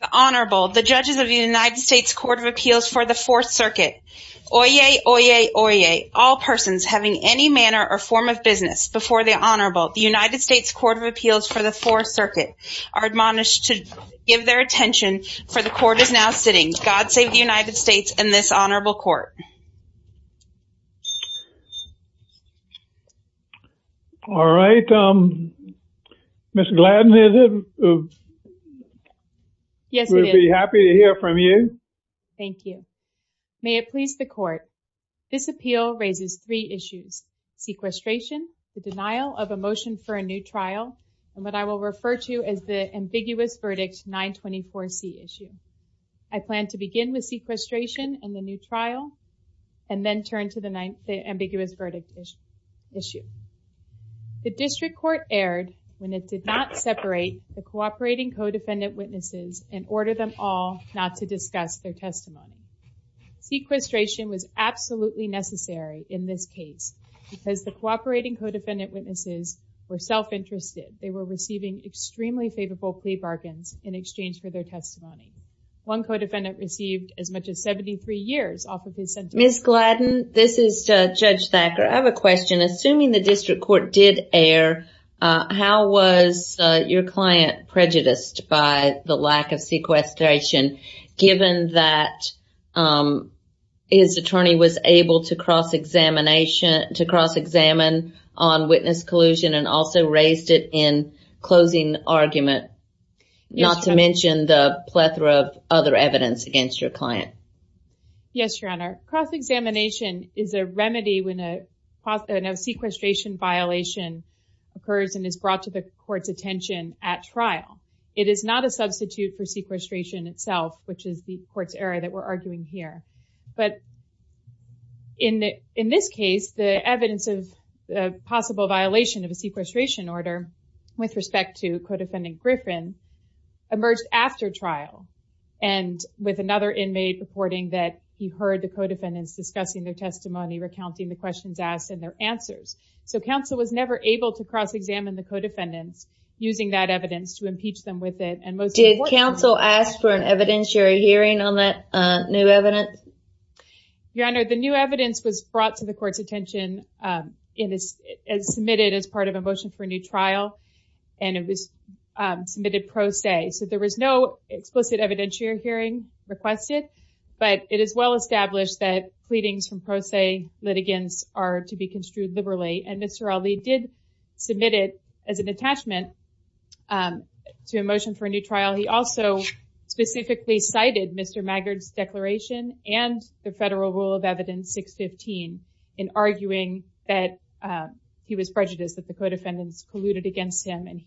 The Honorable, the judges of the United States Court of Appeals for the Fourth Circuit. Oyez, oyez, oyez, all persons having any manner or form of business before the Honorable, the United States Court of Appeals for the Fourth Circuit, are admonished to give their attention, for the court is now sitting. God save the United States and this Honorable Court. All right. Mr. Gladden, is it? Yes, it is. We'd be happy to hear from you. Thank you. May it please the court. This appeal raises three issues. Sequestration, the denial of a motion for a new trial, and what I will refer to as the ambiguous verdict 924C issue. I plan to begin with sequestration and the new trial, and then turn to the 9, the ambiguous verdict issue. The district court erred when it did not separate the cooperating co-defendant witnesses and order them all not to discuss their testimony. Sequestration was absolutely necessary in this case, because the cooperating co-defendant witnesses were self-interested. They were receiving extremely favorable plea bargains in exchange for their testimony. One co-defendant received as much as 73 years off of his sentence. Ms. Gladden, this is Judge Thacker. I have a question. Assuming the district court did err, how was your client prejudiced by the lack of sequestration, given that his attorney was able to cross-examine on witness collusion and also raised it in closing argument, not to mention the plethora of other evidence against your client? Yes, Your Honor. Cross-examination is a remedy when a sequestration violation occurs and is brought to the court's attention at trial. It is not a substitute for sequestration itself, which is the court's error that we're arguing here. But in this case, the evidence of possible violation of a sequestration order with respect to co-defendant Griffin emerged after trial and with another inmate reporting that he heard the co-defendants discussing their testimony, recounting the questions asked and their answers. So counsel was never able to cross-examine the co-defendants using that evidence to impeach them with it. Did counsel ask for an evidentiary hearing on that new evidence? Your Honor, the new evidence was brought to the court's attention and submitted as part of a motion for a new trial, and it was submitted pro se. So there was no explicit evidentiary hearing requested, but it is well established that pleadings from pro se litigants are to be construed liberally. And Mr. Ali did submit it as an attachment to a motion for a new trial. He also specifically cited Mr. Maggard's declaration and the federal rule of evidence 615 in arguing that he was prejudiced, that the co-defendants polluted against him. And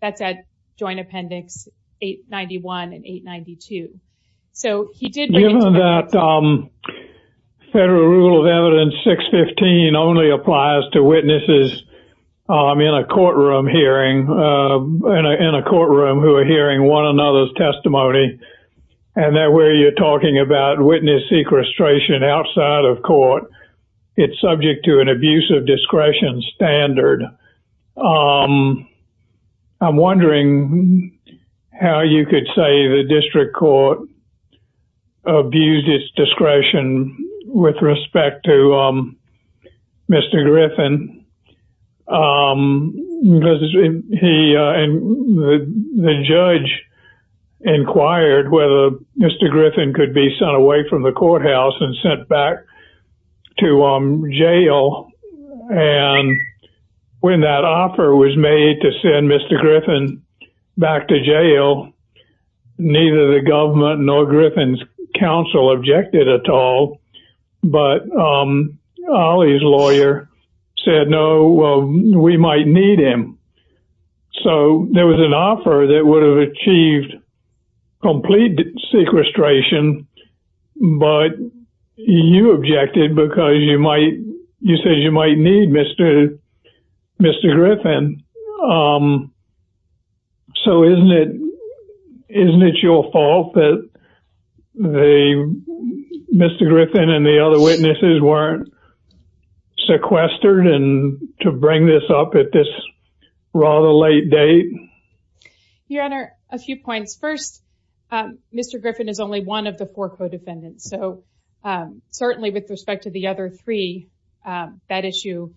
that's at joint appendix 891 and 892. Given that federal rule of evidence 615 only applies to witnesses in a courtroom hearing, in a courtroom who are hearing one another's testimony, and that where you're talking about witness sequestration outside of court, it's subject to an abuse of discretion standard, I'm wondering how you could say the district court abused its discretion with respect to Mr. Griffin. The judge inquired whether Mr. Griffin could be sent away from the courthouse and sent back to jail. And when that offer was made to send Mr. Griffin back to jail, neither the government nor Griffin's counsel objected at all. But Ali's lawyer said, no, we might need him. So there was an offer that would have achieved complete sequestration, but you objected because you said you might need Mr. Griffin. So isn't it your fault that Mr. Griffin and the other witnesses weren't sequestered to bring this up at this rather late date? Your Honor, a few points. First, Mr. Griffin is only one of the four co-defendants. So certainly with respect to the other three, that issue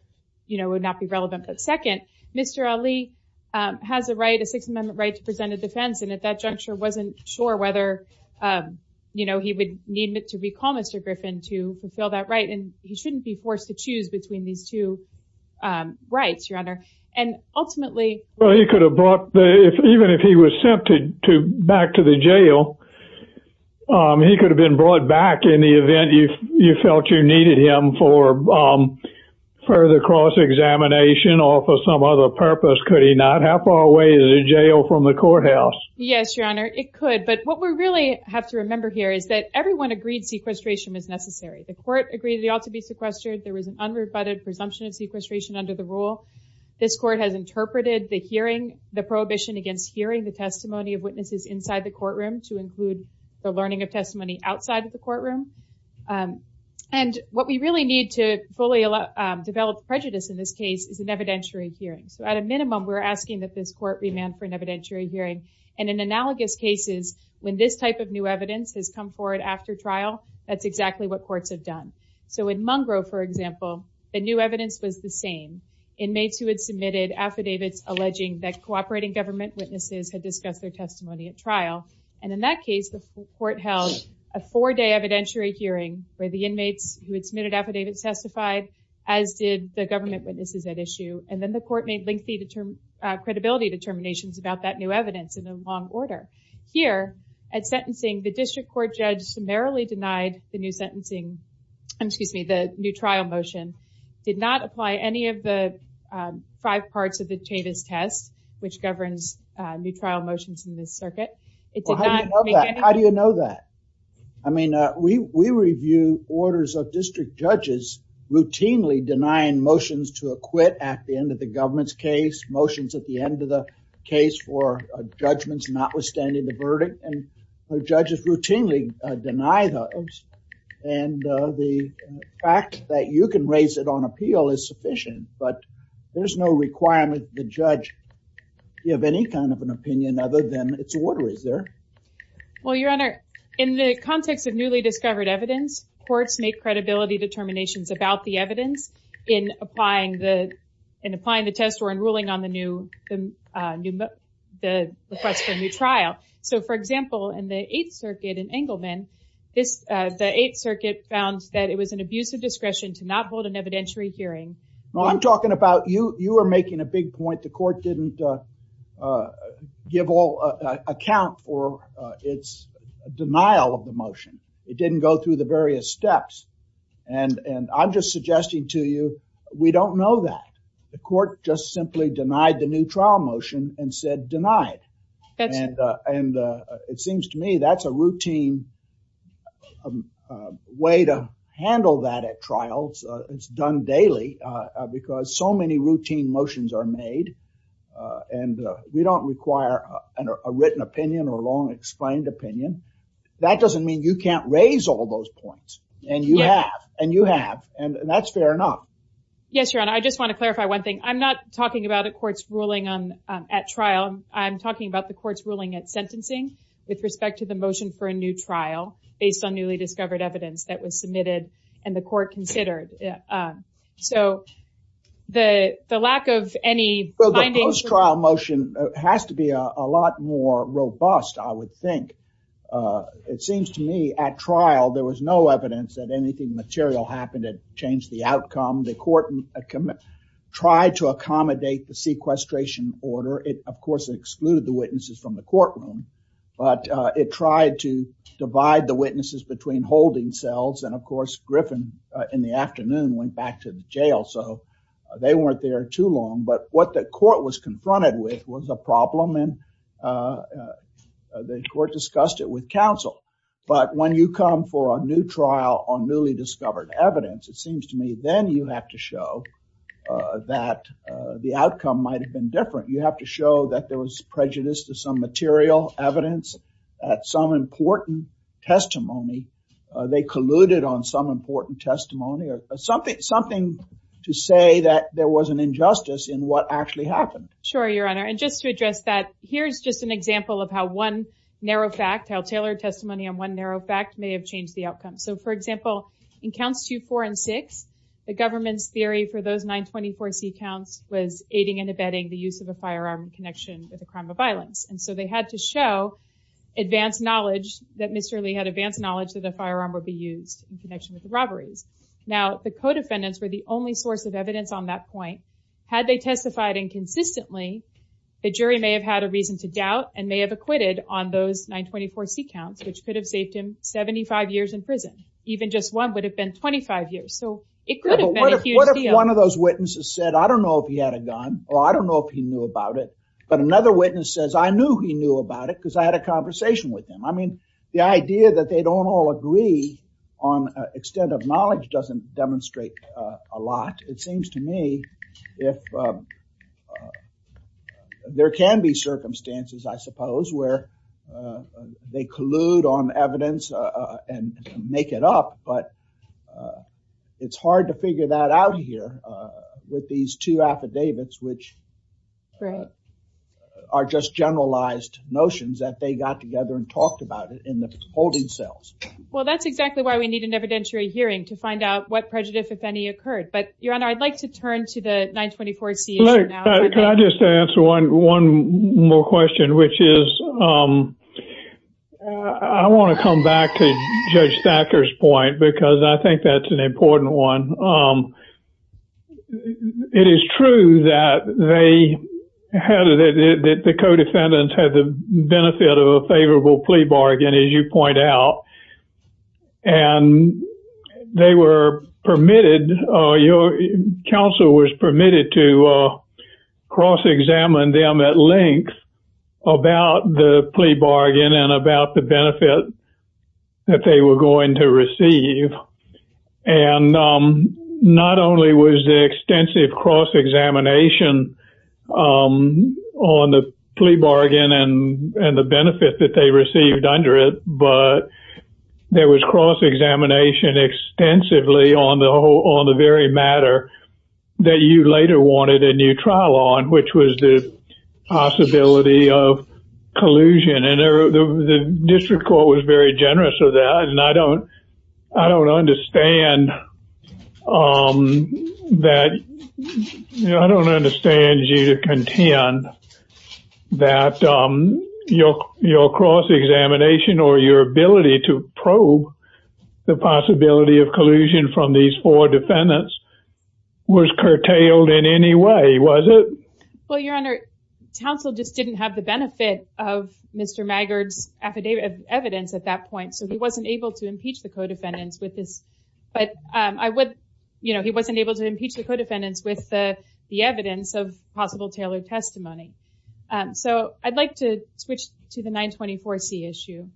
would not be relevant. But second, Mr. Ali has a right, a Sixth Amendment right to present a defense, and at that juncture wasn't sure whether he would need to recall Mr. Griffin to fulfill that right. And he shouldn't be forced to choose between these two rights, Your Honor. Well, even if he was sent back to the jail, he could have been brought back in the event you felt you needed him for further cross-examination or for some other purpose, could he not? How far away is a jail from the courthouse? Yes, Your Honor, it could. But what we really have to remember here is that everyone agreed sequestration was necessary. The court agreed they ought to be sequestered. There was an unrebutted presumption of sequestration under the rule. This court has interpreted the hearing, the prohibition against hearing the testimony of witnesses inside the courtroom to include the learning of testimony outside of the courtroom. And what we really need to fully develop prejudice in this case is an evidentiary hearing. So at a minimum, we're asking that this court remand for an evidentiary hearing. And in analogous cases, when this type of new evidence has come forward after trial, that's exactly what courts have done. So in Mungro, for example, the new evidence was the same. Inmates who had submitted affidavits alleging that cooperating government witnesses had discussed their testimony at trial. And in that case, the court held a four-day evidentiary hearing where the inmates who had submitted affidavits testified, as did the government witnesses at issue. And then the court made lengthy credibility determinations about that new evidence in a long order. Here, at sentencing, the district court judge summarily denied the new trial motion, did not apply any of the five parts of the Chavis test, which governs new trial motions in this circuit. How do you know that? I mean, we review orders of district judges routinely denying motions to acquit at the end of the government's case, motions at the end of the case for judgments notwithstanding the verdict. And the judges routinely deny those. And the fact that you can raise it on appeal is sufficient, but there's no requirement that the judge give any kind of an opinion other than its order is there. Well, Your Honor, in the context of newly discovered evidence, courts make credibility determinations about the evidence in applying the test or in ruling on the request for a new trial. So, for example, in the Eighth Circuit in Engleman, the Eighth Circuit found that it was an abuse of discretion to not hold an evidentiary hearing. I'm talking about you. You are making a big point. The court didn't give all account for its denial of the motion. It didn't go through the various steps. And I'm just suggesting to you we don't know that. The court just simply denied the new trial motion and said denied. And it seems to me that's a routine way to handle that at trials. It's done daily because so many routine motions are made and we don't require a written opinion or a long explained opinion. That doesn't mean you can't raise all those points, and you have, and you have, and that's fair enough. Yes, Your Honor. I just want to clarify one thing. I'm not talking about a court's ruling at trial. I'm talking about the court's ruling at sentencing with respect to the motion for a new trial based on newly discovered evidence that was submitted and the court considered. So the lack of any findings… Well, the post-trial motion has to be a lot more robust, I would think. It seems to me at trial there was no evidence that anything material happened that changed the outcome. The court tried to accommodate the sequestration order. It, of course, excluded the witnesses from the courtroom, but it tried to divide the witnesses between holding cells. And, of course, Griffin in the afternoon went back to the jail, so they weren't there too long. But what the court was confronted with was a problem, and the court discussed it with counsel. But when you come for a new trial on newly discovered evidence, it seems to me then you have to show that the outcome might have been different. You have to show that there was prejudice to some material evidence at some important testimony. They colluded on some important testimony or something to say that there was an injustice in what actually happened. Sure, Your Honor. And just to address that, here's just an example of how one narrow fact, how tailored testimony on one narrow fact may have changed the outcome. So, for example, in Counts 2, 4, and 6, the government's theory for those 924C counts was aiding and abetting the use of a firearm in connection with a crime of violence. And so they had to show advanced knowledge, that Mr. Lee had advanced knowledge that a firearm would be used in connection with the robberies. Now, the co-defendants were the only source of evidence on that point. Had they testified inconsistently, the jury may have had a reason to doubt and may have acquitted on those 924C counts, which could have saved him 75 years in prison. Even just one would have been 25 years. So it could have been a huge deal. One of those witnesses said, I don't know if he had a gun, or I don't know if he knew about it. But another witness says, I knew he knew about it because I had a conversation with him. I mean, the idea that they don't all agree on extent of knowledge doesn't demonstrate a lot. It seems to me if there can be circumstances, I suppose, where they collude on evidence and make it up, but it's hard to figure that out here with these two affidavits, which are just generalized notions that they got together and talked about it in the holding cells. Well, that's exactly why we need an evidentiary hearing to find out what prejudice, if any, occurred. But, Your Honor, I'd like to turn to the 924C issue now. Can I just answer one more question, which is I want to come back to Judge Thacker's point because I think that's an important one. It is true that the co-defendants had the benefit of a favorable plea bargain, as you point out, and they were permitted, counsel was permitted to cross-examine them at length about the plea bargain and about the benefit that they were going to receive. And not only was there extensive cross-examination on the plea bargain and the benefit that they received under it, but there was cross-examination extensively on the very matter that you later wanted a new trial on, which was the possibility of collusion. And the district court was very generous of that, and I don't understand you to contend that your cross-examination or your ability to probe the possibility of collusion from these four defendants was curtailed in any way, was it? Well, Your Honor, counsel just didn't have the benefit of Mr. Maggard's evidence at that point, so he wasn't able to impeach the co-defendants with this. But he wasn't able to impeach the co-defendants with the evidence of possible tailored testimony. So I'd like to switch to the 924C issue.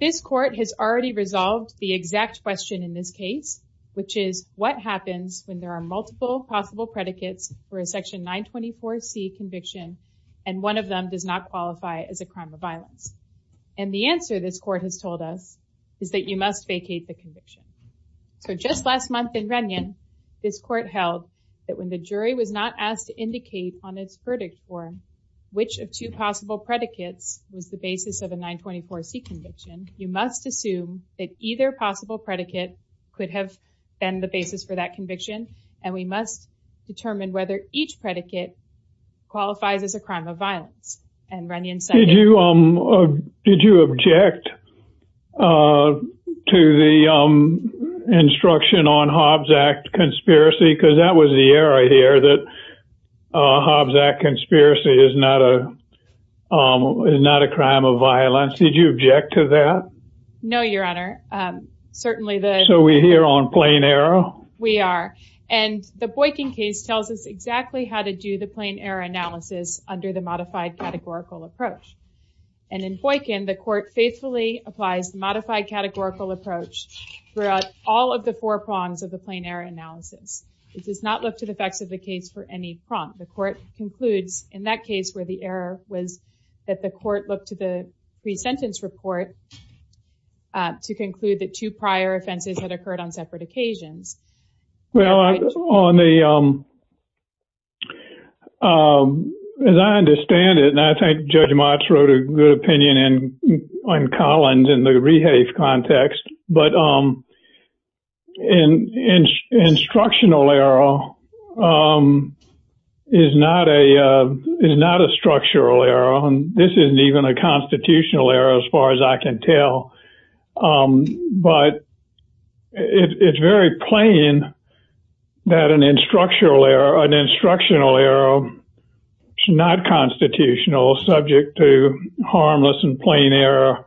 This court has already resolved the exact question in this case, which is what happens when there are multiple possible predicates for a Section 924C conviction and one of them does not qualify as a crime of violence. And the answer this court has told us is that you must vacate the conviction. So just last month in Rennion, this court held that when the jury was not asked to indicate on its verdict form which of two possible predicates was the basis of a 924C conviction, you must assume that either possible predicate could have been the basis for that conviction, and we must determine whether each predicate qualifies as a crime of violence. Did you object to the instruction on Hobbs Act conspiracy? Because that was the era here that Hobbs Act conspiracy is not a crime of violence. Did you object to that? No, Your Honor. So we're here on plain error? We are. And the Boykin case tells us exactly how to do the plain error analysis under the modified categorical approach. And in Boykin, the court faithfully applies modified categorical approach throughout all of the four prongs of the plain error analysis. It does not look to the facts of the case for any prompt. The court concludes in that case where the error was that the court looked to the pre-sentence report to conclude that two prior offenses had occurred on separate occasions. Well, as I understand it, and I think Judge Motz wrote a good opinion on Collins in the rehafe context, but an instructional error is not a structural error. This isn't even a constitutional error as far as I can tell. But it's very plain that an instructional error is not constitutional, subject to harmless and plain error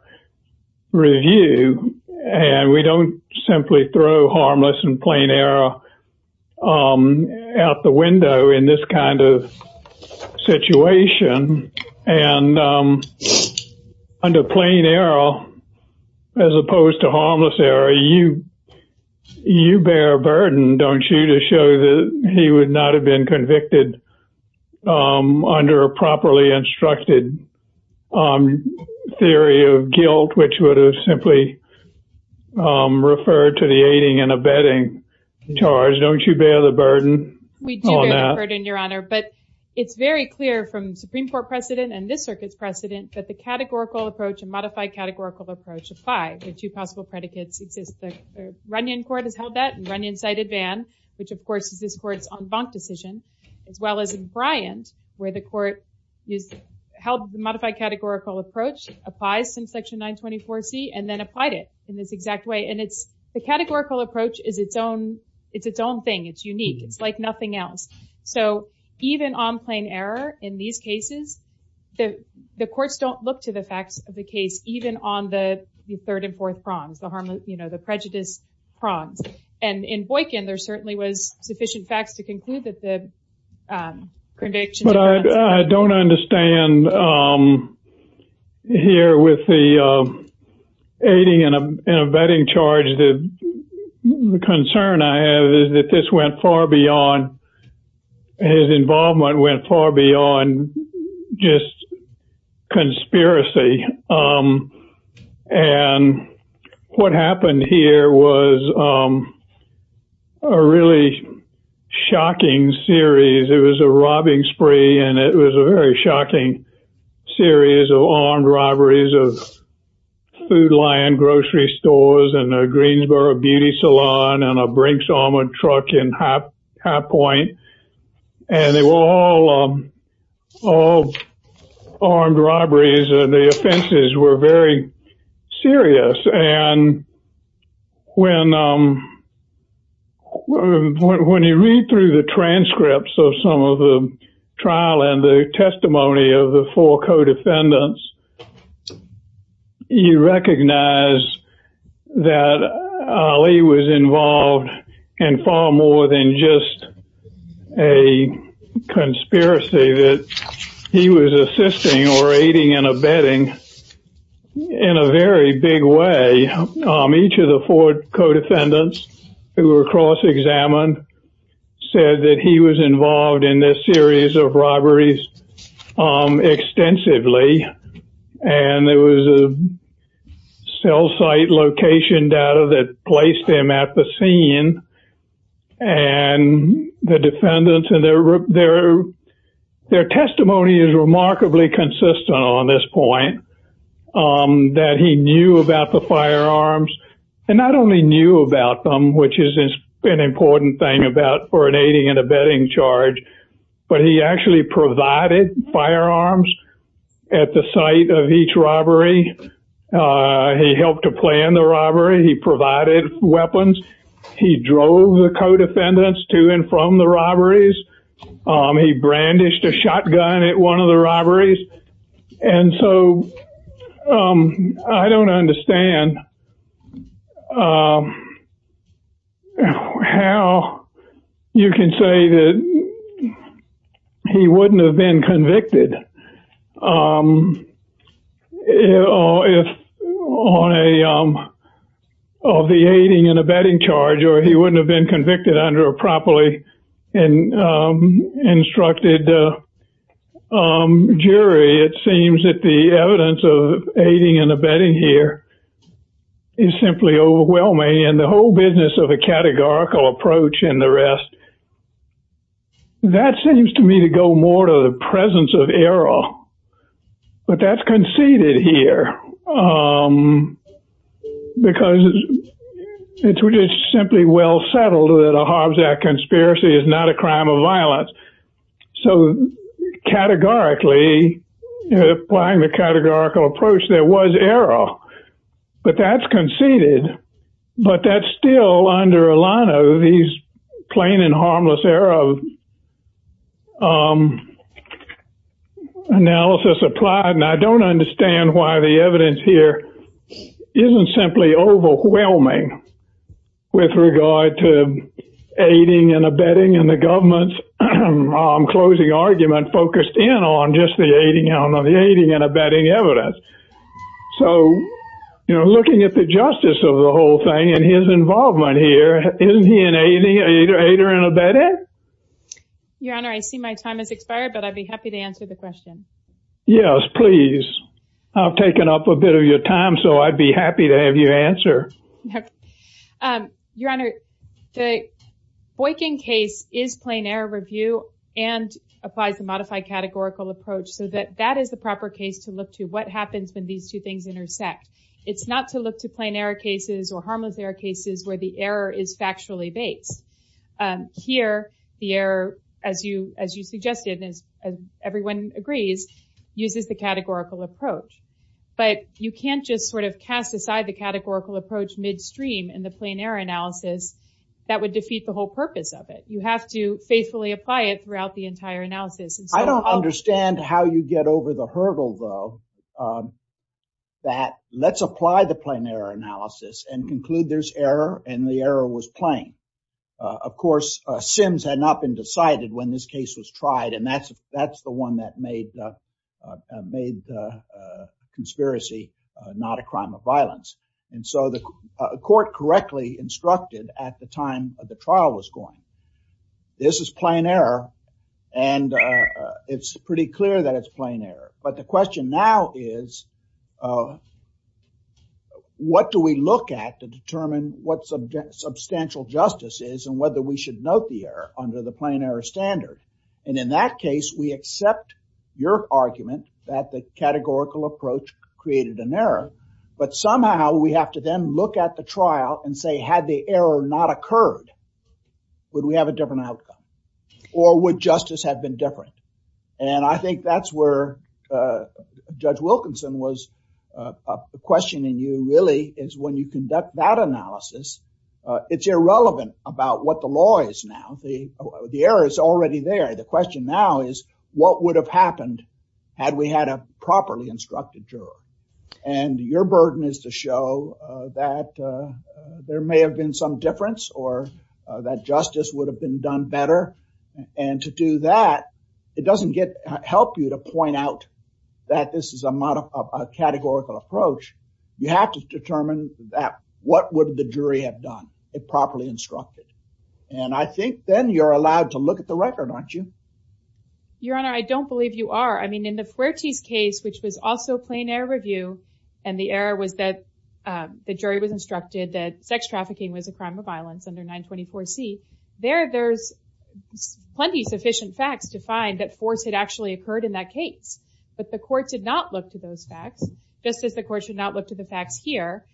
review. And we don't simply throw harmless and plain error out the window in this kind of situation. And under plain error, as opposed to harmless error, you bear a burden, don't you, to show that he would not have been convicted under a properly instructed theory of guilt, which would have simply referred to the aiding and abetting charge. Don't you bear the burden on that? We do bear the burden, Your Honor. But it's very clear from Supreme Court precedent and this circuit's precedent that the categorical approach and modified categorical approach apply. The two possible predicates exist. The Runyon Court has held that, and Runyon cited Vann, which of course is this court's en banc decision, as well as in Bryant, where the court held the modified categorical approach, applies some section 924C, and then applied it in this exact way. And the categorical approach is its own thing. It's unique. It's like nothing else. So even on plain error in these cases, the courts don't look to the facts of the case, even on the third and fourth prongs, the prejudice prongs. And in Boykin, there certainly was sufficient facts to conclude that the convictions were unanswered. But I don't understand here with the aiding and abetting charge. The concern I have is that this went far beyond, his involvement went far beyond just conspiracy. And what happened here was a really shocking series. It was a robbing spree, and it was a very shocking series of armed robberies of food, land, grocery stores, and a Greensboro beauty salon, and a Brinks armored truck in High Point. And they were all armed robberies, and the offenses were very serious. And when you read through the transcripts of some of the trial, and the testimony of the four co-defendants, you recognize that Ali was involved in far more than just a conspiracy, that he was assisting or aiding and abetting in a very big way. Each of the four co-defendants who were cross-examined said that he was involved in this series of robberies extensively. And there was a cell site location data that placed him at the scene. And the defendants and their testimony is remarkably consistent on this point, that he knew about the firearms, and not only knew about them, which is an important thing for an aiding and abetting charge, but he actually provided firearms at the site of each robbery. He helped to plan the robbery. He provided weapons. He drove the co-defendants to and from the robberies. He brandished a shotgun at one of the robberies. And so I don't understand how you can say that he wouldn't have been convicted on the aiding and abetting charge, or he wouldn't have been convicted under a properly instructed jury. It seems that the evidence of aiding and abetting here is simply overwhelming, and the whole business of a categorical approach and the rest, that seems to me to go more to the presence of error. But that's conceded here, because it's simply well settled that a Harzak conspiracy is not a crime of violence. So categorically, applying the categorical approach, there was error. But that's conceded. But that's still under a line of these plain and harmless error of analysis applied, and I don't understand why the evidence here isn't simply overwhelming with regard to aiding and abetting, and the government's closing argument focused in on just the aiding and abetting evidence. So looking at the justice of the whole thing and his involvement here, isn't he an aider and abetter? Your Honor, I see my time has expired, but I'd be happy to answer the question. Yes, please. I've taken up a bit of your time, so I'd be happy to have you answer. Your Honor, the Boykin case is plain error review and applies the modified categorical approach, so that that is the proper case to look to. What happens when these two things intersect? It's not to look to plain error cases or harmless error cases where the error is factually based. Here, the error, as you suggested, as everyone agrees, uses the categorical approach. But you can't just sort of cast aside the categorical approach midstream in the plain error analysis. That would defeat the whole purpose of it. You have to faithfully apply it throughout the entire analysis. I don't understand how you get over the hurdle, though, that let's apply the plain error analysis and conclude there's error and the error was plain. Of course, sins had not been decided when this case was tried, and that's the one that made the conspiracy not a crime of violence. And so the court correctly instructed at the time the trial was going, this is plain error, and it's pretty clear that it's plain error. But the question now is what do we look at to determine what substantial justice is and whether we should note the error under the plain error standard? And in that case, we accept your argument that the categorical approach created an error, but somehow we have to then look at the trial and say had the error not occurred, would we have a different outcome or would justice have been different? And I think that's where Judge Wilkinson was questioning you really is when you conduct that analysis, it's irrelevant about what the law is now. The error is already there. The question now is what would have happened had we had a properly instructed juror? And your burden is to show that there may have been some difference or that justice would have been done better. And to do that, it doesn't help you to point out that this is a categorical approach. You have to determine that what would the jury have done if properly instructed. And I think then you're allowed to look at the record, aren't you? Your Honor, I don't believe you are. I mean, in the Fuertes case, which was also plain error review, and the error was that the jury was instructed that sex trafficking was a crime of violence under 924C, there's plenty of sufficient facts to find that force had actually occurred in that case. But the court did not look to those facts, just as the court should not look to the facts here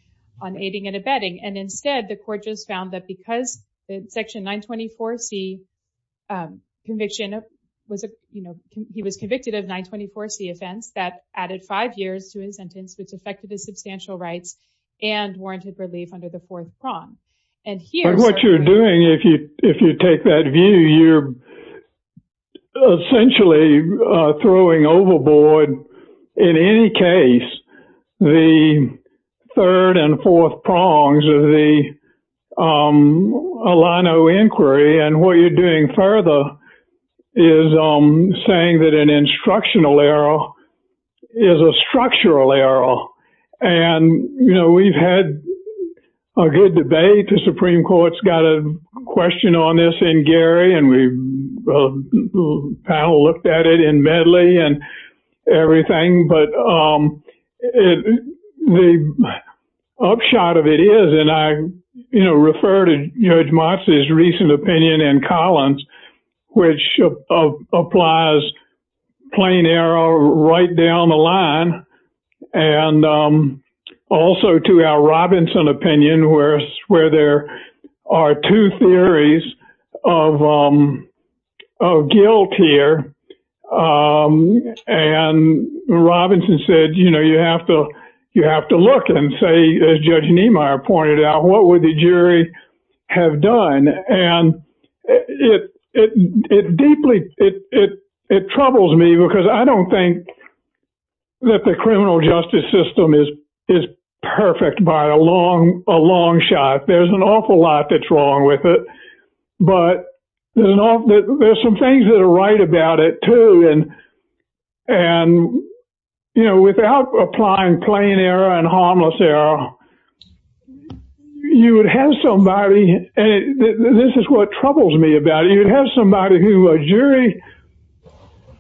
on aiding and abetting. And instead, the court just found that because Section 924C conviction, he was convicted of 924C offense, that added five years to his sentence, which affected his substantial rights and warranted relief under the fourth prong. But what you're doing, if you take that view, you're essentially throwing overboard, in any case, the third and fourth prongs of the Alano inquiry. And what you're doing further is saying that an instructional error is a structural error. And, you know, we've had a good debate. The Supreme Court's got a question on this in Gary, and we've looked at it in Medley and everything. But the upshot of it is, and I refer to Judge Motz's recent opinion in Collins, which applies plain error right down the line, and also to our Robinson opinion, where there are two theories of guilt here. And Robinson said, you know, as Judge Niemeyer pointed out, what would the jury have done? And it deeply, it troubles me, because I don't think that the criminal justice system is perfect by a long shot. There's an awful lot that's wrong with it. But there's some things that are right about it, too. And, you know, without applying plain error and harmless error, you would have somebody, and this is what troubles me about it, you'd have somebody who a jury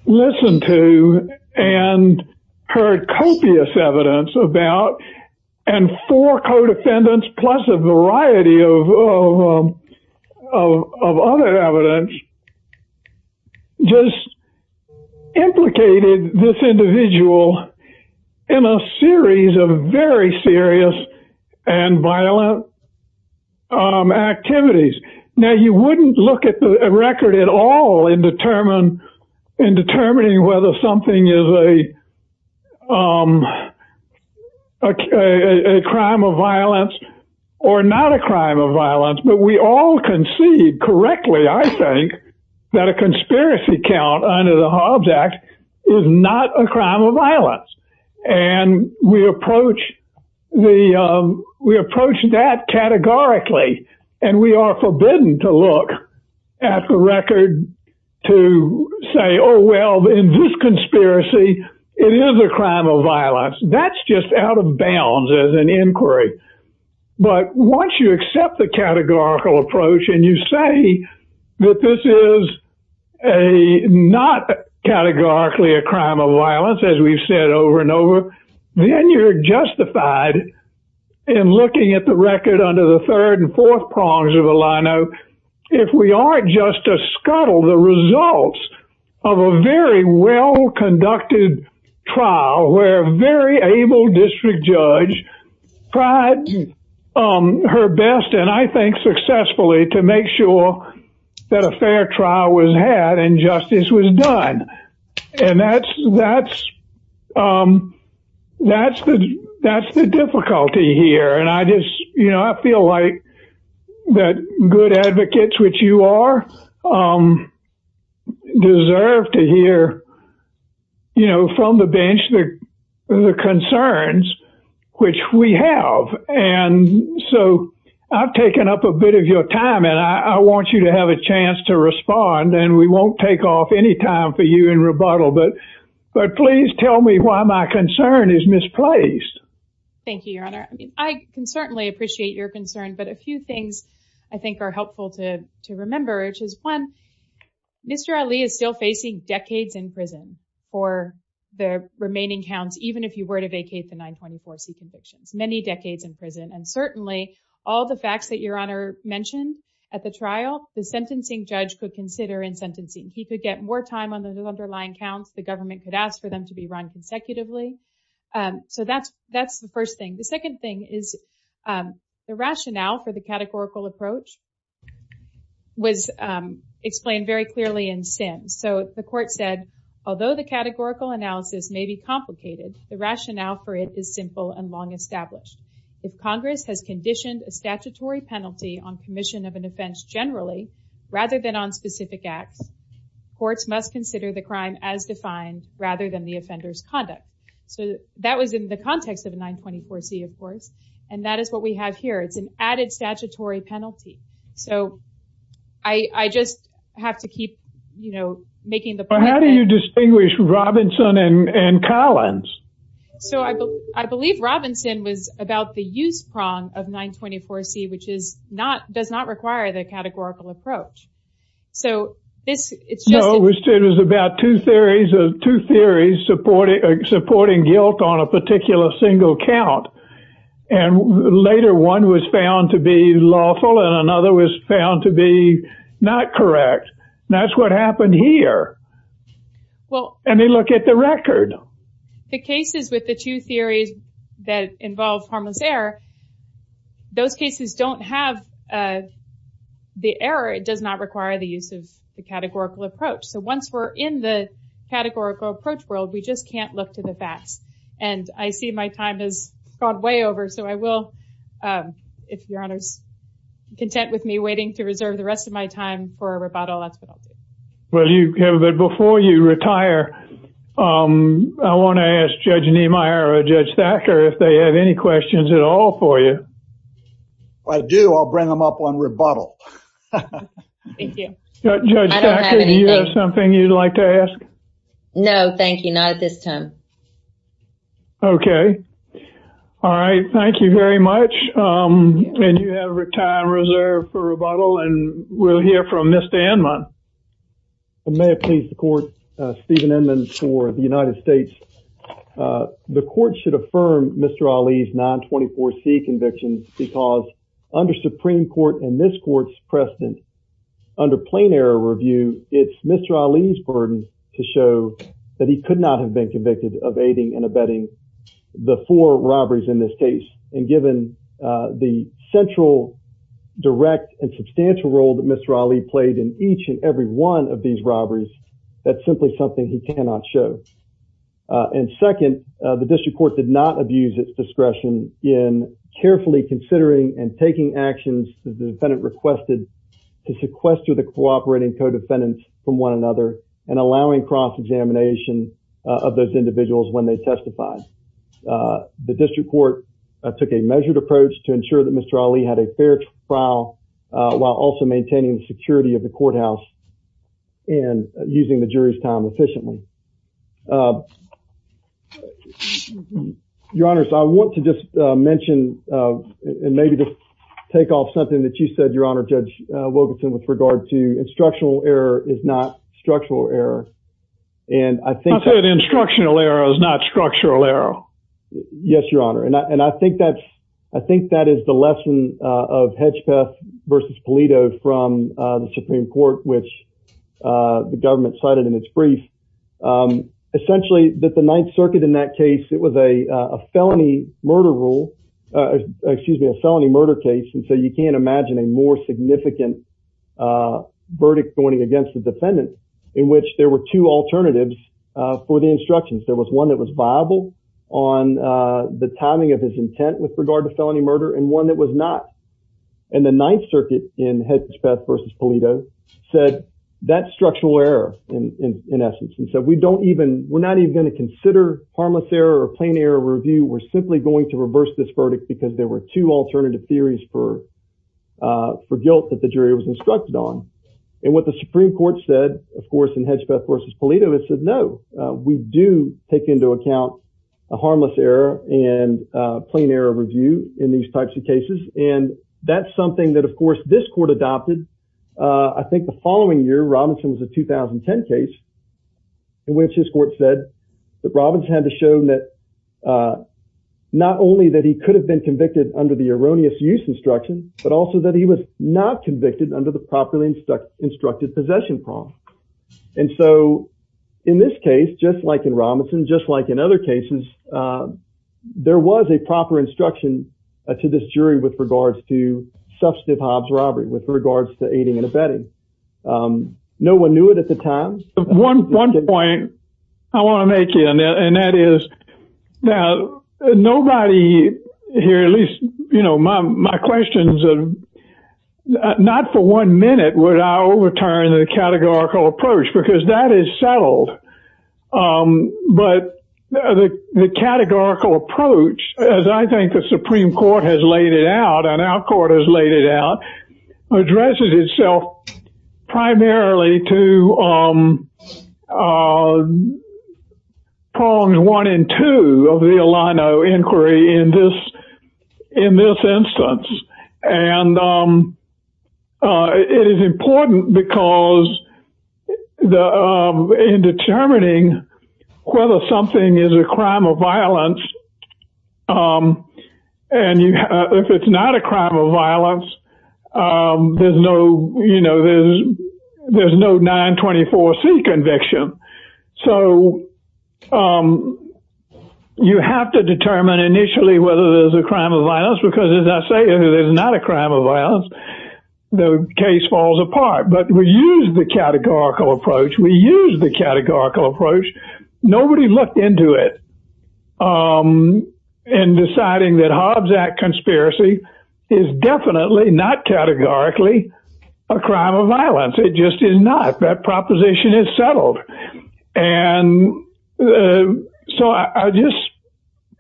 listened to and heard copious evidence about, and four co-defendants plus a variety of other evidence, just implicated this individual in a series of very serious and violent activities. Now, you wouldn't look at the record at all in determining whether something is a crime of violence or not a crime of violence, but we all concede correctly, I think, that a conspiracy count under the Hobbs Act is not a crime of violence. And we approach that categorically, and we are forbidden to look at the record to say, oh, well, in this conspiracy, it is a crime of violence. That's just out of bounds as an inquiry. But once you accept the categorical approach, and you say that this is not categorically a crime of violence, as we've said over and over, then you're justified in looking at the record under the third and fourth prongs of a line-out if we aren't just to scuttle the results of a very well-conducted trial where a very able district judge tried her best, and I think successfully, to make sure that a fair trial was had and justice was done. And that's the difficulty here. And I feel like that good advocates, which you are, deserve to hear from the bench the concerns which we have. And so I've taken up a bit of your time, and I want you to have a chance to respond, and we won't take off any time for you in rebuttal, but please tell me why my concern is misplaced. Thank you, Your Honor. I can certainly appreciate your concern, but a few things I think are helpful to remember, which is, one, Mr. Ali is still facing decades in prison for the remaining counts, even if you were to vacate the 924C convictions, many decades in prison. And certainly all the facts that Your Honor mentioned at the trial, the sentencing judge could consider in sentencing. He could get more time on the underlying counts. The government could ask for them to be run consecutively. So that's the first thing. The second thing is the rationale for the categorical approach was explained very clearly in Sims. So the court said, although the categorical analysis may be complicated, the rationale for it is simple and long established. If Congress has conditioned a statutory penalty on commission of an offense generally, rather than on specific acts, courts must consider the crime as defined, rather than the offender's conduct. So that was in the context of a 924C, of course, and that is what we have here. It's an added statutory penalty. So I just have to keep, you know, making the point. How do you distinguish Robinson and Collins? So I believe Robinson was about the use prong of 924C, which does not require the categorical approach. No, it was about two theories supporting guilt on a particular single count. And later one was found to be lawful and another was found to be not correct. That's what happened here. And they look at the record. The cases with the two theories that involve harmless error, those cases don't have the error. It does not require the use of the categorical approach. So once we're in the categorical approach world, we just can't look to the facts. And I see my time has gone way over. So I will, if Your Honor's content with me waiting to reserve the rest of my time for a rebuttal, that's what I'll do. Well, you have it before you retire. I want to ask Judge Niemeyer or Judge Thacker if they have any questions at all for you. If I do, I'll bring them up on rebuttal. Thank you. Judge Thacker, do you have something you'd like to ask? No, thank you. Not at this time. OK. All right. Thank you very much. And you have your time reserved for rebuttal. And we'll hear from Mr. Anman. May it please the court. Steven Anman for the United States. The court should affirm Mr. Ali's 924C convictions because under Supreme Court and this court's precedent, under plain error review, it's Mr. Ali's burden to show that he could not have been convicted of aiding and abetting the four robberies in this case. And given the central, direct, and substantial role that Mr. Ali played in each and every one of these robberies, that's simply something he cannot show. And second, the district court did not abuse its discretion in carefully considering and taking actions that the defendant requested to sequester the cooperating co-defendants from one another and allowing cross-examination of those individuals when they testified. The district court took a measured approach to ensure that Mr. Ali had a fair trial while also maintaining the security of the courthouse. And using the jury's time efficiently. Your Honor, I want to just mention and maybe just take off something that you said, Your Honor, Judge Wilkinson, with regard to instructional error is not structural error. And I think that instructional error is not structural error. Yes, Your Honor. And I think that's I think that is the lesson of Hedgepeth versus Polito from the Supreme Court, which the government cited in its brief. Essentially that the Ninth Circuit in that case, it was a felony murder rule. Excuse me, a felony murder case. And so you can't imagine a more significant verdict going against the defendant in which there were two alternatives for the instructions. There was one that was viable on the timing of his intent with regard to felony murder and one that was not. And the Ninth Circuit in Hedgepeth versus Polito said that structural error in essence. And so we don't even we're not even going to consider harmless error or plain error review. We're simply going to reverse this verdict because there were two alternative theories for for guilt that the jury was instructed on. And what the Supreme Court said, of course, in Hedgepeth versus Polito, it said, no, we do take into account a harmless error and plain error review in these types of cases. And that's something that, of course, this court adopted, I think, the following year. Robinson was a 2010 case in which his court said that Robbins had to show that not only that he could have been convicted under the erroneous use instruction, but also that he was not convicted under the properly instructed possession problem. And so in this case, just like in Robinson, just like in other cases, there was a proper instruction to this jury with regards to substantive Hobbs robbery, with regards to aiding and abetting. No one knew it at the time. One point I want to make, and that is that nobody here, at least, you know, my questions are not for one minute. Would I overturn the categorical approach? Because that is settled. But the categorical approach, as I think the Supreme Court has laid it out and our court has laid it out, addresses itself primarily to prongs one and two of the Alano inquiry in this instance. And it is important because in determining whether something is a crime of violence, and if it's not a crime of violence, there's no 924C conviction. So you have to determine initially whether there's a crime of violence, because as I say, if it is not a crime of violence, the case falls apart. But we use the categorical approach. We use the categorical approach. Nobody looked into it in deciding that Hobbs Act conspiracy is definitely not categorically a crime of violence. It just is not. That proposition is settled. And so I just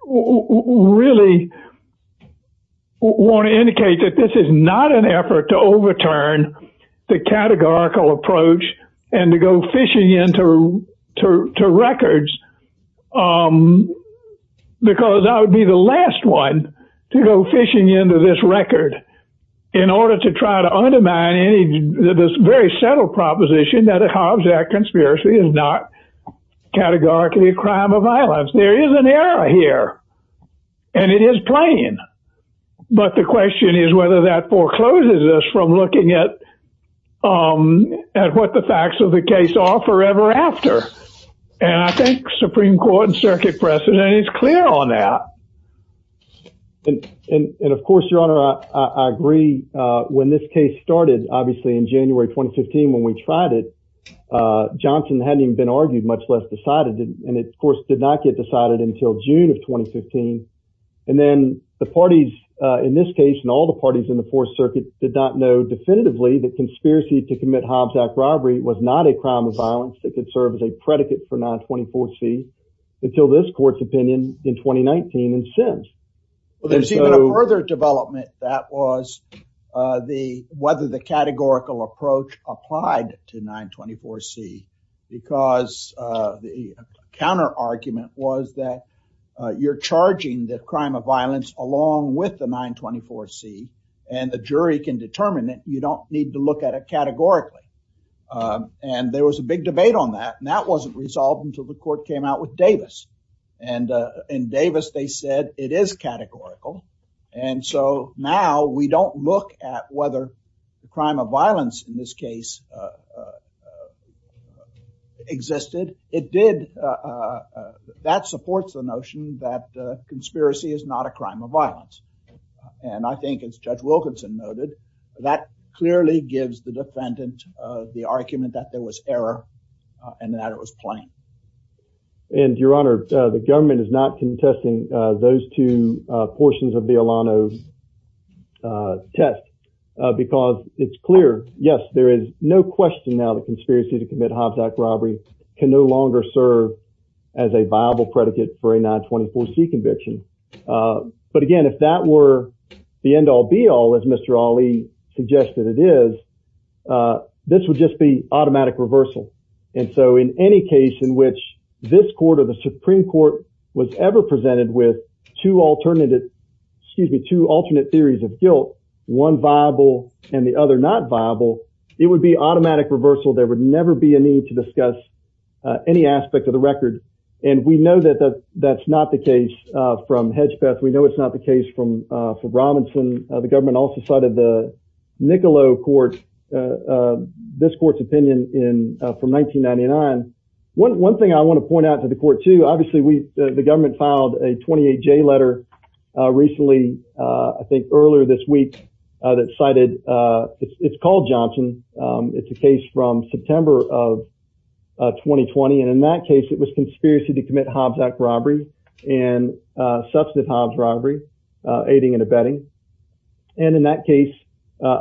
really want to indicate that this is not an effort to overturn the categorical approach and to go fishing into records, because I would be the last one to go fishing into this record in order to try to undermine this very settled proposition that a Hobbs Act conspiracy is not categorically a crime of violence. There is an error here, and it is plain. But the question is whether that forecloses us from looking at what the facts of the case are forever after. And I think Supreme Court and circuit precedent is clear on that. And of course, Your Honor, I agree. When this case started, obviously, in January 2015, when we tried it, Johnson hadn't even been argued, much less decided. And it, of course, did not get decided until June of 2015. And then the parties in this case and all the parties in the Fourth Circuit did not know definitively that conspiracy to commit Hobbs Act robbery was not a crime of violence that could serve as a predicate for 924C until this court's opinion in 2019 and since. There's even a further development that was whether the categorical approach applied to 924C, because the counter argument was that you're charging the crime of violence along with the 924C, and the jury can determine that you don't need to look at it categorically. And there was a big debate on that. And that wasn't resolved until the court came out with Davis. And in Davis, they said it is categorical. And so now we don't look at whether the crime of violence in this case existed. It did. That supports the notion that conspiracy is not a crime of violence. And I think it's Judge Wilkinson noted that clearly gives the defendant the argument that there was error and that it was plain. And, Your Honor, the government is not contesting those two portions of the Alano test because it's clear. Yes, there is no question now that conspiracy to commit Hobbs Act robbery can no longer serve as a viable predicate for a 924C conviction. But, again, if that were the end all be all, as Mr. Ali suggested it is, this would just be automatic reversal. And so in any case in which this court or the Supreme Court was ever presented with two alternative excuse me, two alternate theories of guilt, one viable and the other not viable, it would be automatic reversal. There would never be a need to discuss any aspect of the record. And we know that that's not the case from Hedgpeth. We know it's not the case from Robinson. The government also cited the Niccolo court, this court's opinion in from 1999. One thing I want to point out to the court, too, obviously, we the government filed a 28 J letter recently. I think earlier this week that cited it's called Johnson. It's a case from September of 2020. And in that case, it was conspiracy to commit Hobbs Act robbery and substantive Hobbs robbery, aiding and abetting. And in that case,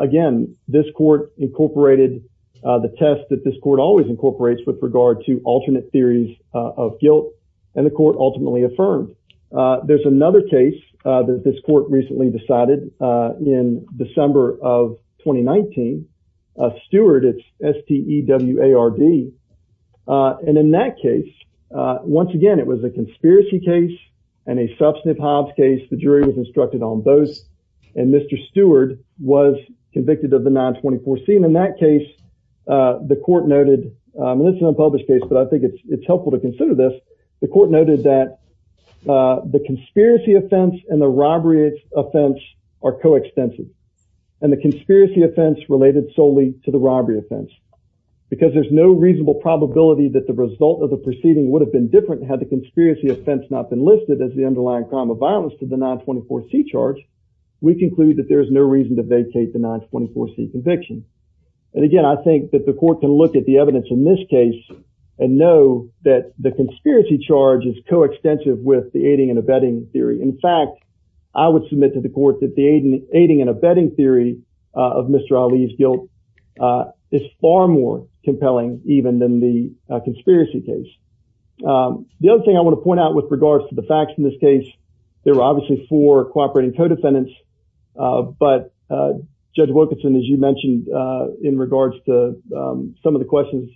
again, this court incorporated the test that this court always incorporates with regard to alternate theories of guilt. And the court ultimately affirmed there's another case that this court recently decided in December of 2019. Stewart, it's S.T.E.W.A.R.D. And in that case, once again, it was a conspiracy case and a substantive Hobbs case. The jury was instructed on both. And Mr. Stewart was convicted of the 924 scene in that case. The court noted it's an unpublished case, but I think it's helpful to consider this. The court noted that the conspiracy offense and the robbery offense are coextensive. And the conspiracy offense related solely to the robbery offense, because there's no reasonable probability that the result of the proceeding would have been different had the conspiracy offense not been listed as the underlying crime of violence to the 924 C charge. We conclude that there is no reason to vacate the 924 C conviction. And again, I think that the court can look at the evidence in this case and know that the conspiracy charge is coextensive with the aiding and abetting theory. In fact, I would submit to the court that the aiding and abetting theory of Mr. Ali's guilt is far more compelling even than the conspiracy case. The other thing I want to point out with regards to the facts in this case, there were obviously four cooperating co-defendants. But Judge Wilkinson, as you mentioned, in regards to some of the questions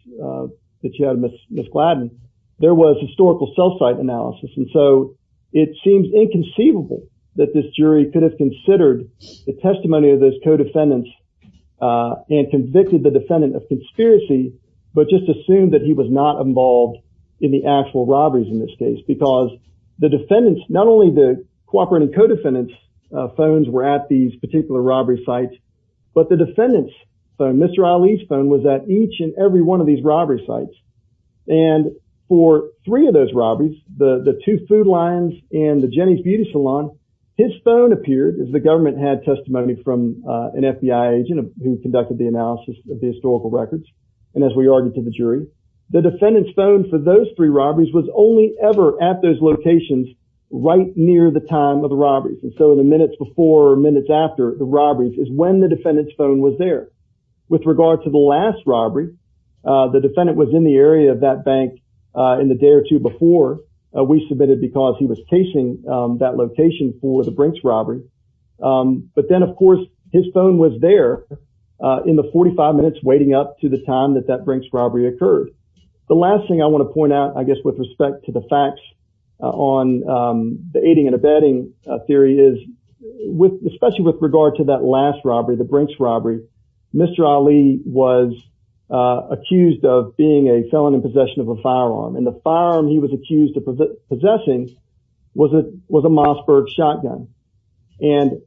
that you had, Ms. Gladden, there was historical self-cite analysis. And so it seems inconceivable that this jury could have considered the testimony of those co-defendants and convicted the defendant of conspiracy, but just assumed that he was not involved in the actual robberies in this case. Because the defendants, not only the cooperating co-defendants phones were at these particular robbery sites, but the defendants, Mr. Ali's phone was at each and every one of these robbery sites. And for three of those robberies, the two food lines and the Jenny's Beauty Salon, his phone appeared as the government had testimony from an FBI agent who conducted the analysis of the historical records. And as we argued to the jury, the defendant's phone for those three robberies was only ever at those locations right near the time of the robberies. And so the minutes before or minutes after the robberies is when the defendant's phone was there. With regard to the last robbery, the defendant was in the area of that bank in the day or two before we submitted because he was chasing that location for the Brinks robbery. But then, of course, his phone was there in the 45 minutes waiting up to the time that that Brinks robbery occurred. The last thing I want to point out, I guess, with respect to the facts on the aiding and abetting theory is with especially with regard to that last robbery, the Brinks robbery. Mr. Ali was accused of being a felon in possession of a firearm and the firearm he was accused of possessing was it was a Mossberg shotgun. And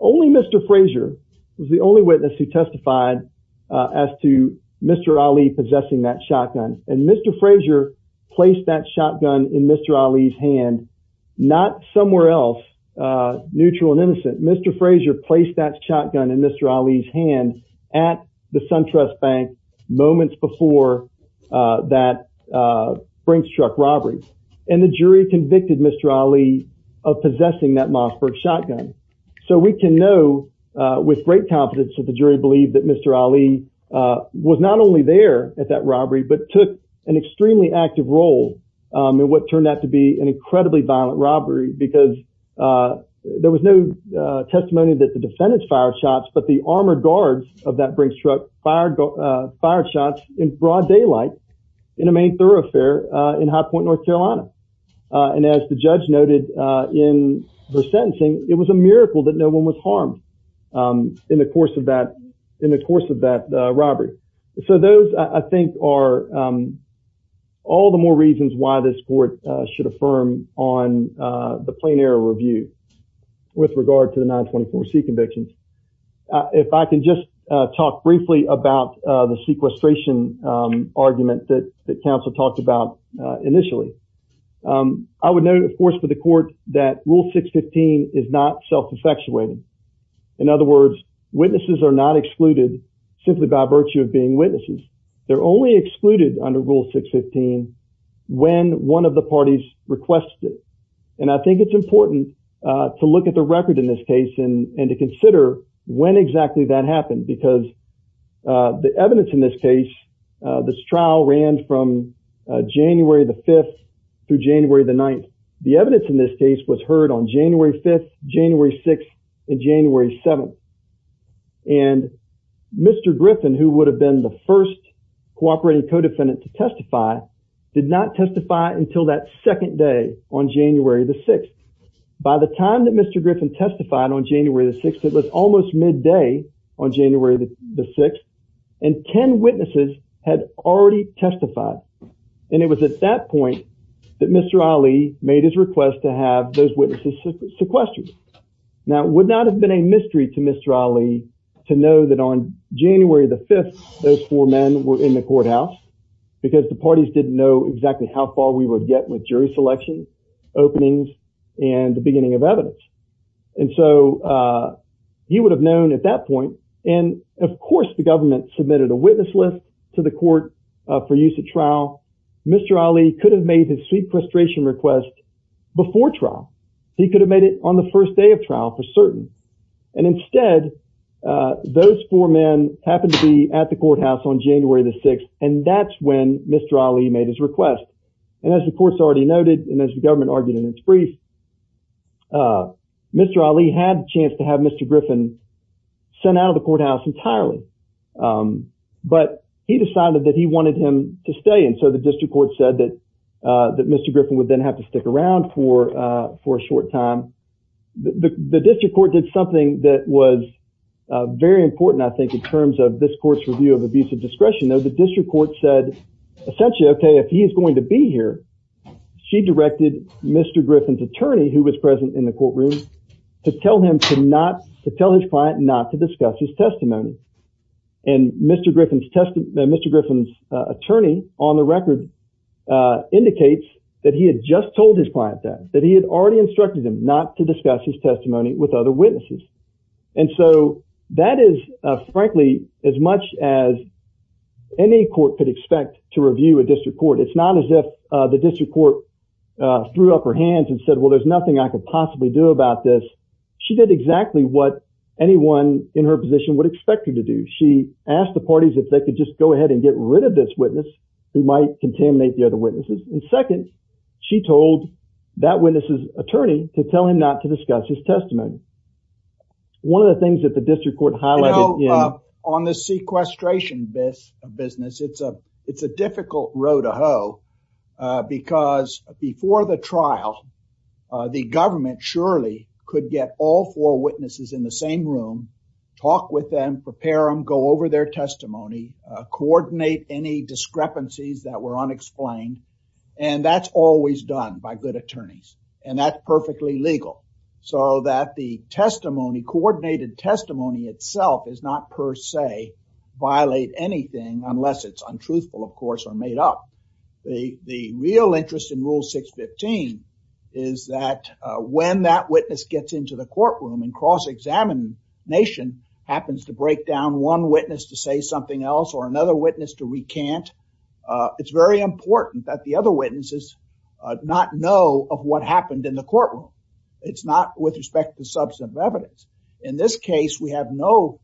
only Mr. Frazier was the only witness who testified as to Mr. Ali possessing that shotgun. And Mr. Frazier placed that shotgun in Mr. Ali's hand, not somewhere else, neutral and innocent. Mr. Frazier placed that shotgun in Mr. Ali's hand at the SunTrust Bank moments before that Brinks truck robbery. And the jury convicted Mr. Ali of possessing that Mossberg shotgun. So we can know with great confidence that the jury believed that Mr. Ali was not only there at that robbery, but took an extremely active role in what turned out to be an incredibly violent robbery. Because there was no testimony that the defendants fired shots, but the armored guards of that Brinks truck fired fired shots in broad daylight in a main thoroughfare in High Point, North Carolina. And as the judge noted in the sentencing, it was a miracle that no one was harmed in the course of that in the course of that robbery. So those, I think, are all the more reasons why this court should affirm on the plain error review with regard to the 924 C convictions. If I can just talk briefly about the sequestration argument that the council talked about initially. I would note, of course, for the court that Rule 615 is not self-perfection. In other words, witnesses are not excluded simply by virtue of being witnesses. They're only excluded under Rule 615 when one of the parties requested it. And I think it's important to look at the record in this case and to consider when exactly that happened. Because the evidence in this case, this trial ran from January the 5th through January the 9th. The evidence in this case was heard on January 5th, January 6th, and January 7th. And Mr. Griffin, who would have been the first cooperating co-defendant to testify, did not testify until that second day on January the 6th. By the time that Mr. Griffin testified on January the 6th, it was almost midday on January the 6th, and 10 witnesses had already testified. And it was at that point that Mr. Ali made his request to have those witnesses sequestered. Now, it would not have been a mystery to Mr. Ali to know that on January the 5th those four men were in the courthouse because the parties didn't know exactly how far we would get with jury selection, openings, and the beginning of evidence. And so he would have known at that point. And, of course, the government submitted a witness list to the court for use at trial. Mr. Ali could have made his sequestration request before trial. He could have made it on the first day of trial for certain. And instead, those four men happened to be at the courthouse on January the 6th, and that's when Mr. Ali made his request. And as the court's already noted, and as the government argued in its brief, Mr. Ali had a chance to have Mr. Griffin sent out of the courthouse entirely. But he decided that he wanted him to stay. And so the district court said that Mr. Griffin would then have to stick around for a short time. The district court did something that was very important, I think, in terms of this court's review of abusive discretion. The district court said, essentially, OK, if he is going to be here, she directed Mr. Griffin's attorney, who was present in the courtroom, to tell his client not to discuss his testimony. And Mr. Griffin's attorney, on the record, indicates that he had just told his client that, that he had already instructed him not to discuss his testimony with other witnesses. And so that is, frankly, as much as any court could expect to review a district court. It's not as if the district court threw up her hands and said, well, there's nothing I could possibly do about this. She did exactly what anyone in her position would expect her to do. She asked the parties if they could just go ahead and get rid of this witness who might contaminate the other witnesses. And second, she told that witness's attorney to tell him not to discuss his testimony. One of the things that the district court highlighted... You know, on the sequestration business, it's a difficult row to hoe, because before the trial, the government surely could get all four witnesses in the same room, talk with them, prepare them, go over their testimony, coordinate any discrepancies that were unexplained. And that's always done by good attorneys. And that's perfectly legal. So that the testimony, coordinated testimony itself, does not per se violate anything unless it's untruthful, of course, or made up. The real interest in Rule 615 is that when that witness gets into the courtroom and cross-examination, happens to break down one witness to say something else or another witness to recant. It's very important that the other witnesses not know of what happened in the courtroom. It's not with respect to substantive evidence. In this case, we have no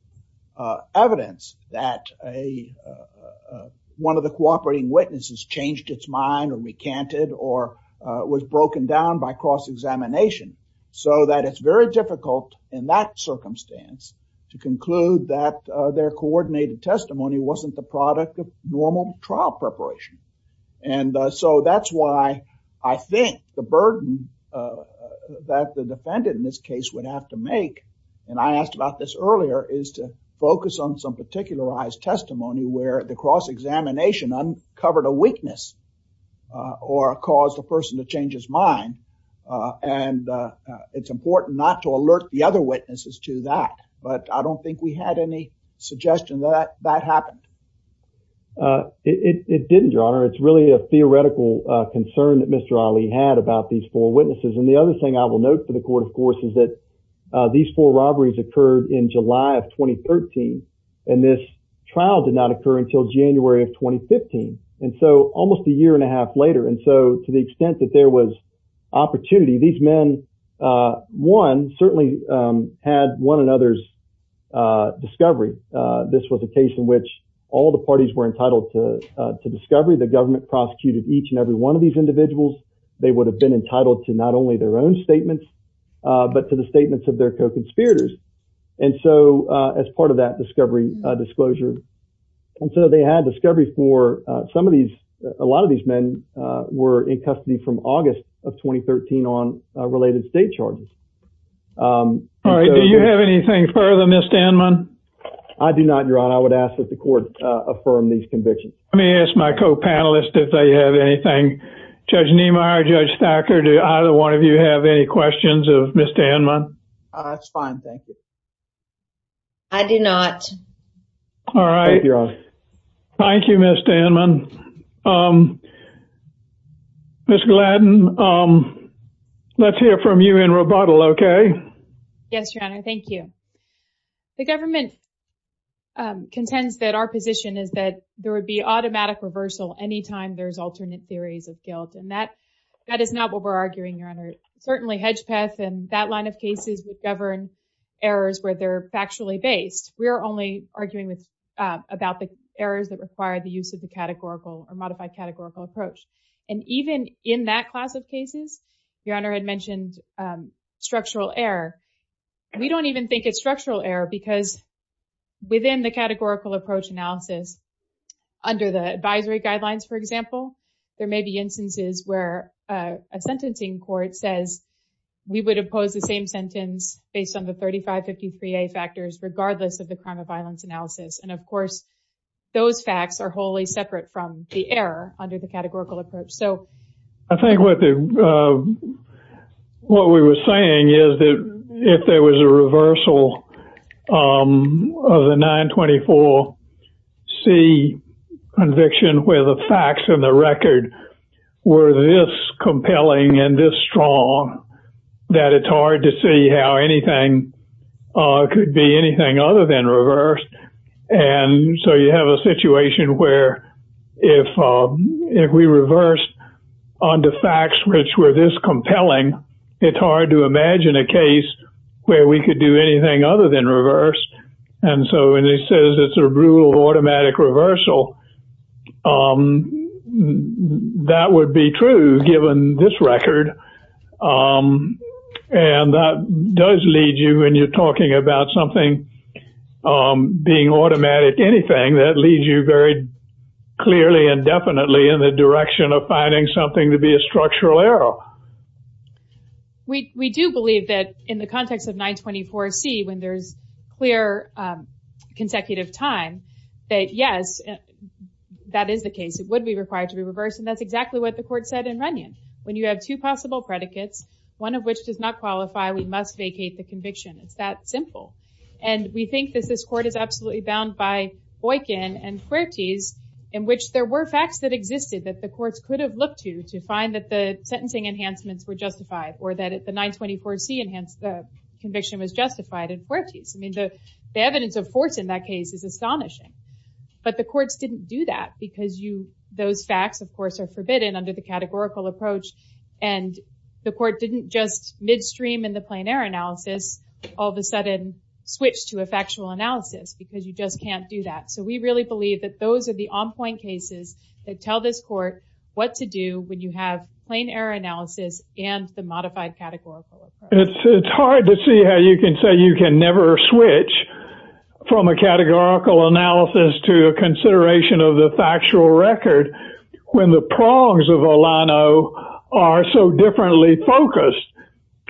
evidence that one of the cooperating witnesses changed its mind or recanted or was broken down by cross-examination. So that it's very difficult in that circumstance to conclude that their coordinated testimony wasn't the product of normal trial preparation. And so that's why I think the burden that the defendant in this case would have to make, and I asked about this earlier, is to focus on some particularized testimony where the cross-examination uncovered a weakness or caused the person to change his mind. And it's important not to alert the other witnesses to that. But I don't think we had any suggestion that that happened. It didn't, Your Honor. It's really a theoretical concern that Mr. Ali had about these four witnesses. And the other thing I will note for the court, of course, is that these four robberies occurred in July of 2013, and this trial did not occur until January of 2015. And so almost a year and a half later, and so to the extent that there was opportunity, these men, one, certainly had one another's discovery. This was a case in which all the parties were entitled to discovery. The government prosecuted each and every one of these individuals. They would have been entitled to not only their own statements, but to the statements of their co-conspirators. And so as part of that discovery disclosure, and so they had discovery for some of these. A lot of these men were in custody from August of 2013 on related state charges. All right. Do you have anything further, Ms. Danman? I do not, Your Honor. I would ask that the court affirm these convictions. Let me ask my co-panelists if they have anything. Judge Niemeyer, Judge Thacker, do either one of you have any questions of Ms. Danman? That's fine. Thank you. I do not. All right. Thank you, Your Honor. Thank you, Ms. Danman. Ms. Gladden, let's hear from you in rebuttal, okay? Yes, Your Honor. Thank you. The government contends that our position is that there would be automatic reversal anytime there's alternate theories of guilt. And that is not what we're arguing, Your Honor. Certainly, Hedgepeth and that line of cases would govern errors where they're factually based. We are only arguing about the errors that require the use of the categorical or modified categorical approach. And even in that class of cases, Your Honor had mentioned structural error. We don't even think it's structural error because within the categorical approach analysis, under the advisory guidelines, for example, there may be instances where a sentencing court says we would oppose the same sentence based on the 3553A factors, regardless of the crime of violence analysis. And, of course, those facts are wholly separate from the error under the categorical approach. I think what we were saying is that if there was a reversal of the 924C conviction, where the facts and the record were this compelling and this strong, that it's hard to see how anything could be anything other than reversed. And so you have a situation where if we reverse onto facts which were this compelling, it's hard to imagine a case where we could do anything other than reverse. And so when it says it's a rule of automatic reversal, that would be true given this record. And that does lead you when you're talking about something being automatic, anything that leads you very clearly and definitely in the direction of finding something to be a structural error. We do believe that in the context of 924C, when there's clear consecutive time, that yes, that is the case. It would be required to be reversed. And that's exactly what the court said in Runyon. When you have two possible predicates, one of which does not qualify, we must vacate the conviction. It's that simple. And we think that this court is absolutely bound by Boykin and Fuertes, in which there were facts that existed that the courts could have looked to to find that the sentencing enhancements were justified or that the 924C conviction was justified in Fuertes. I mean, the evidence of force in that case is astonishing. But the courts didn't do that because those facts, of course, are forbidden under the categorical approach. And the court didn't just midstream in the plain error analysis, all of a sudden switch to a factual analysis because you just can't do that. So we really believe that those are the on-point cases that tell this court what to do when you have plain error analysis and the modified categorical approach. It's hard to see how you can say you can never switch from a categorical analysis to a consideration of the factual record when the prongs of Olano are so differently focused.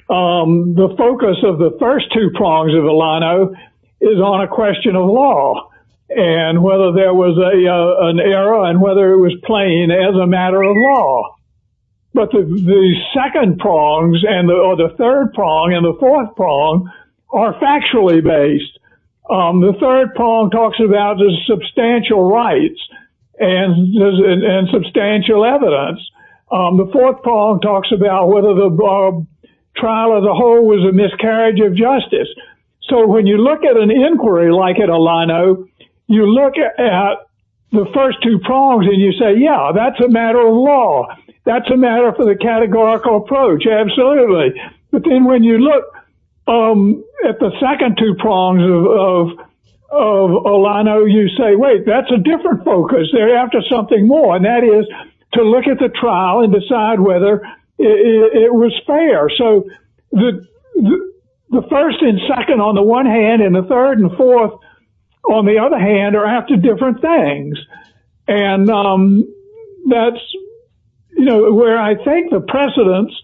The focus of the first two prongs of Olano is on a question of law and whether there was an error and whether it was plain as a matter of law. But the second prongs or the third prong and the fourth prong are factually based. The third prong talks about the substantial rights and substantial evidence. The fourth prong talks about whether the trial as a whole was a miscarriage of justice. So when you look at an inquiry like at Olano, you look at the first two prongs and you say, yeah, that's a matter of law. That's a matter for the categorical approach, absolutely. But then when you look at the second two prongs of Olano, you say, wait, that's a different focus. They're after something more, and that is to look at the trial and decide whether it was fair. So the first and second on the one hand and the third and fourth on the other hand are after different things. And that's where I think the precedents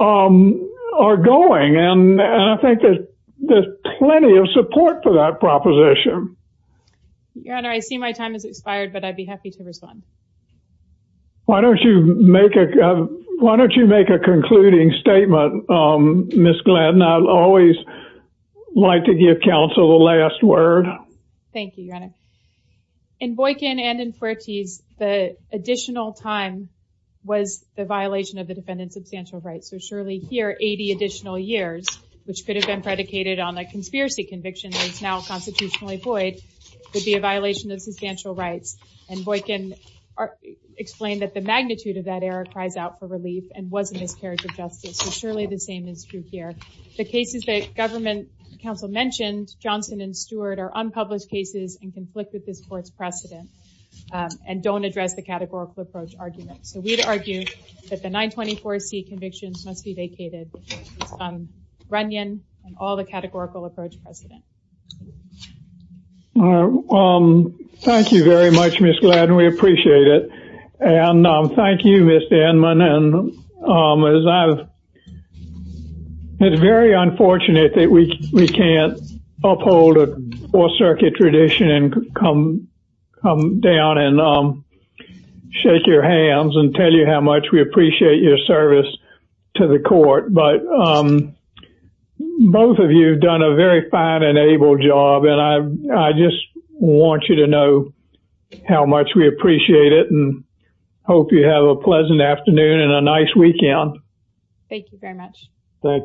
are going. And I think there's plenty of support for that proposition. Your Honor, I see my time has expired, but I'd be happy to respond. Why don't you make a concluding statement, Ms. Glenn? I always like to give counsel the last word. Thank you, Your Honor. In Boykin and in Fuertes, the additional time was the violation of the defendant's substantial rights. So surely here, 80 additional years, which could have been predicated on a conspiracy conviction that's now constitutionally void, would be a violation of substantial rights. And Boykin explained that the magnitude of that error cries out for relief and was a miscarriage of justice. So surely the same is true here. The cases that government counsel mentioned, Johnson and Stewart, are unpublished cases and conflict with this court's precedent and don't address the categorical approach argument. So we'd argue that the 924C convictions must be vacated based on Runyon and all the categorical approach precedent. Thank you very much, Ms. Glenn. We appreciate it. And thank you, Ms. Denman. It's very unfortunate that we can't uphold a four-circuit tradition and come down and shake your hands and tell you how much we appreciate your service to the court. But both of you have done a very fine and able job, and I just want you to know how much we appreciate it and hope you have a pleasant afternoon and a nice weekend. Thank you very much. Thank you.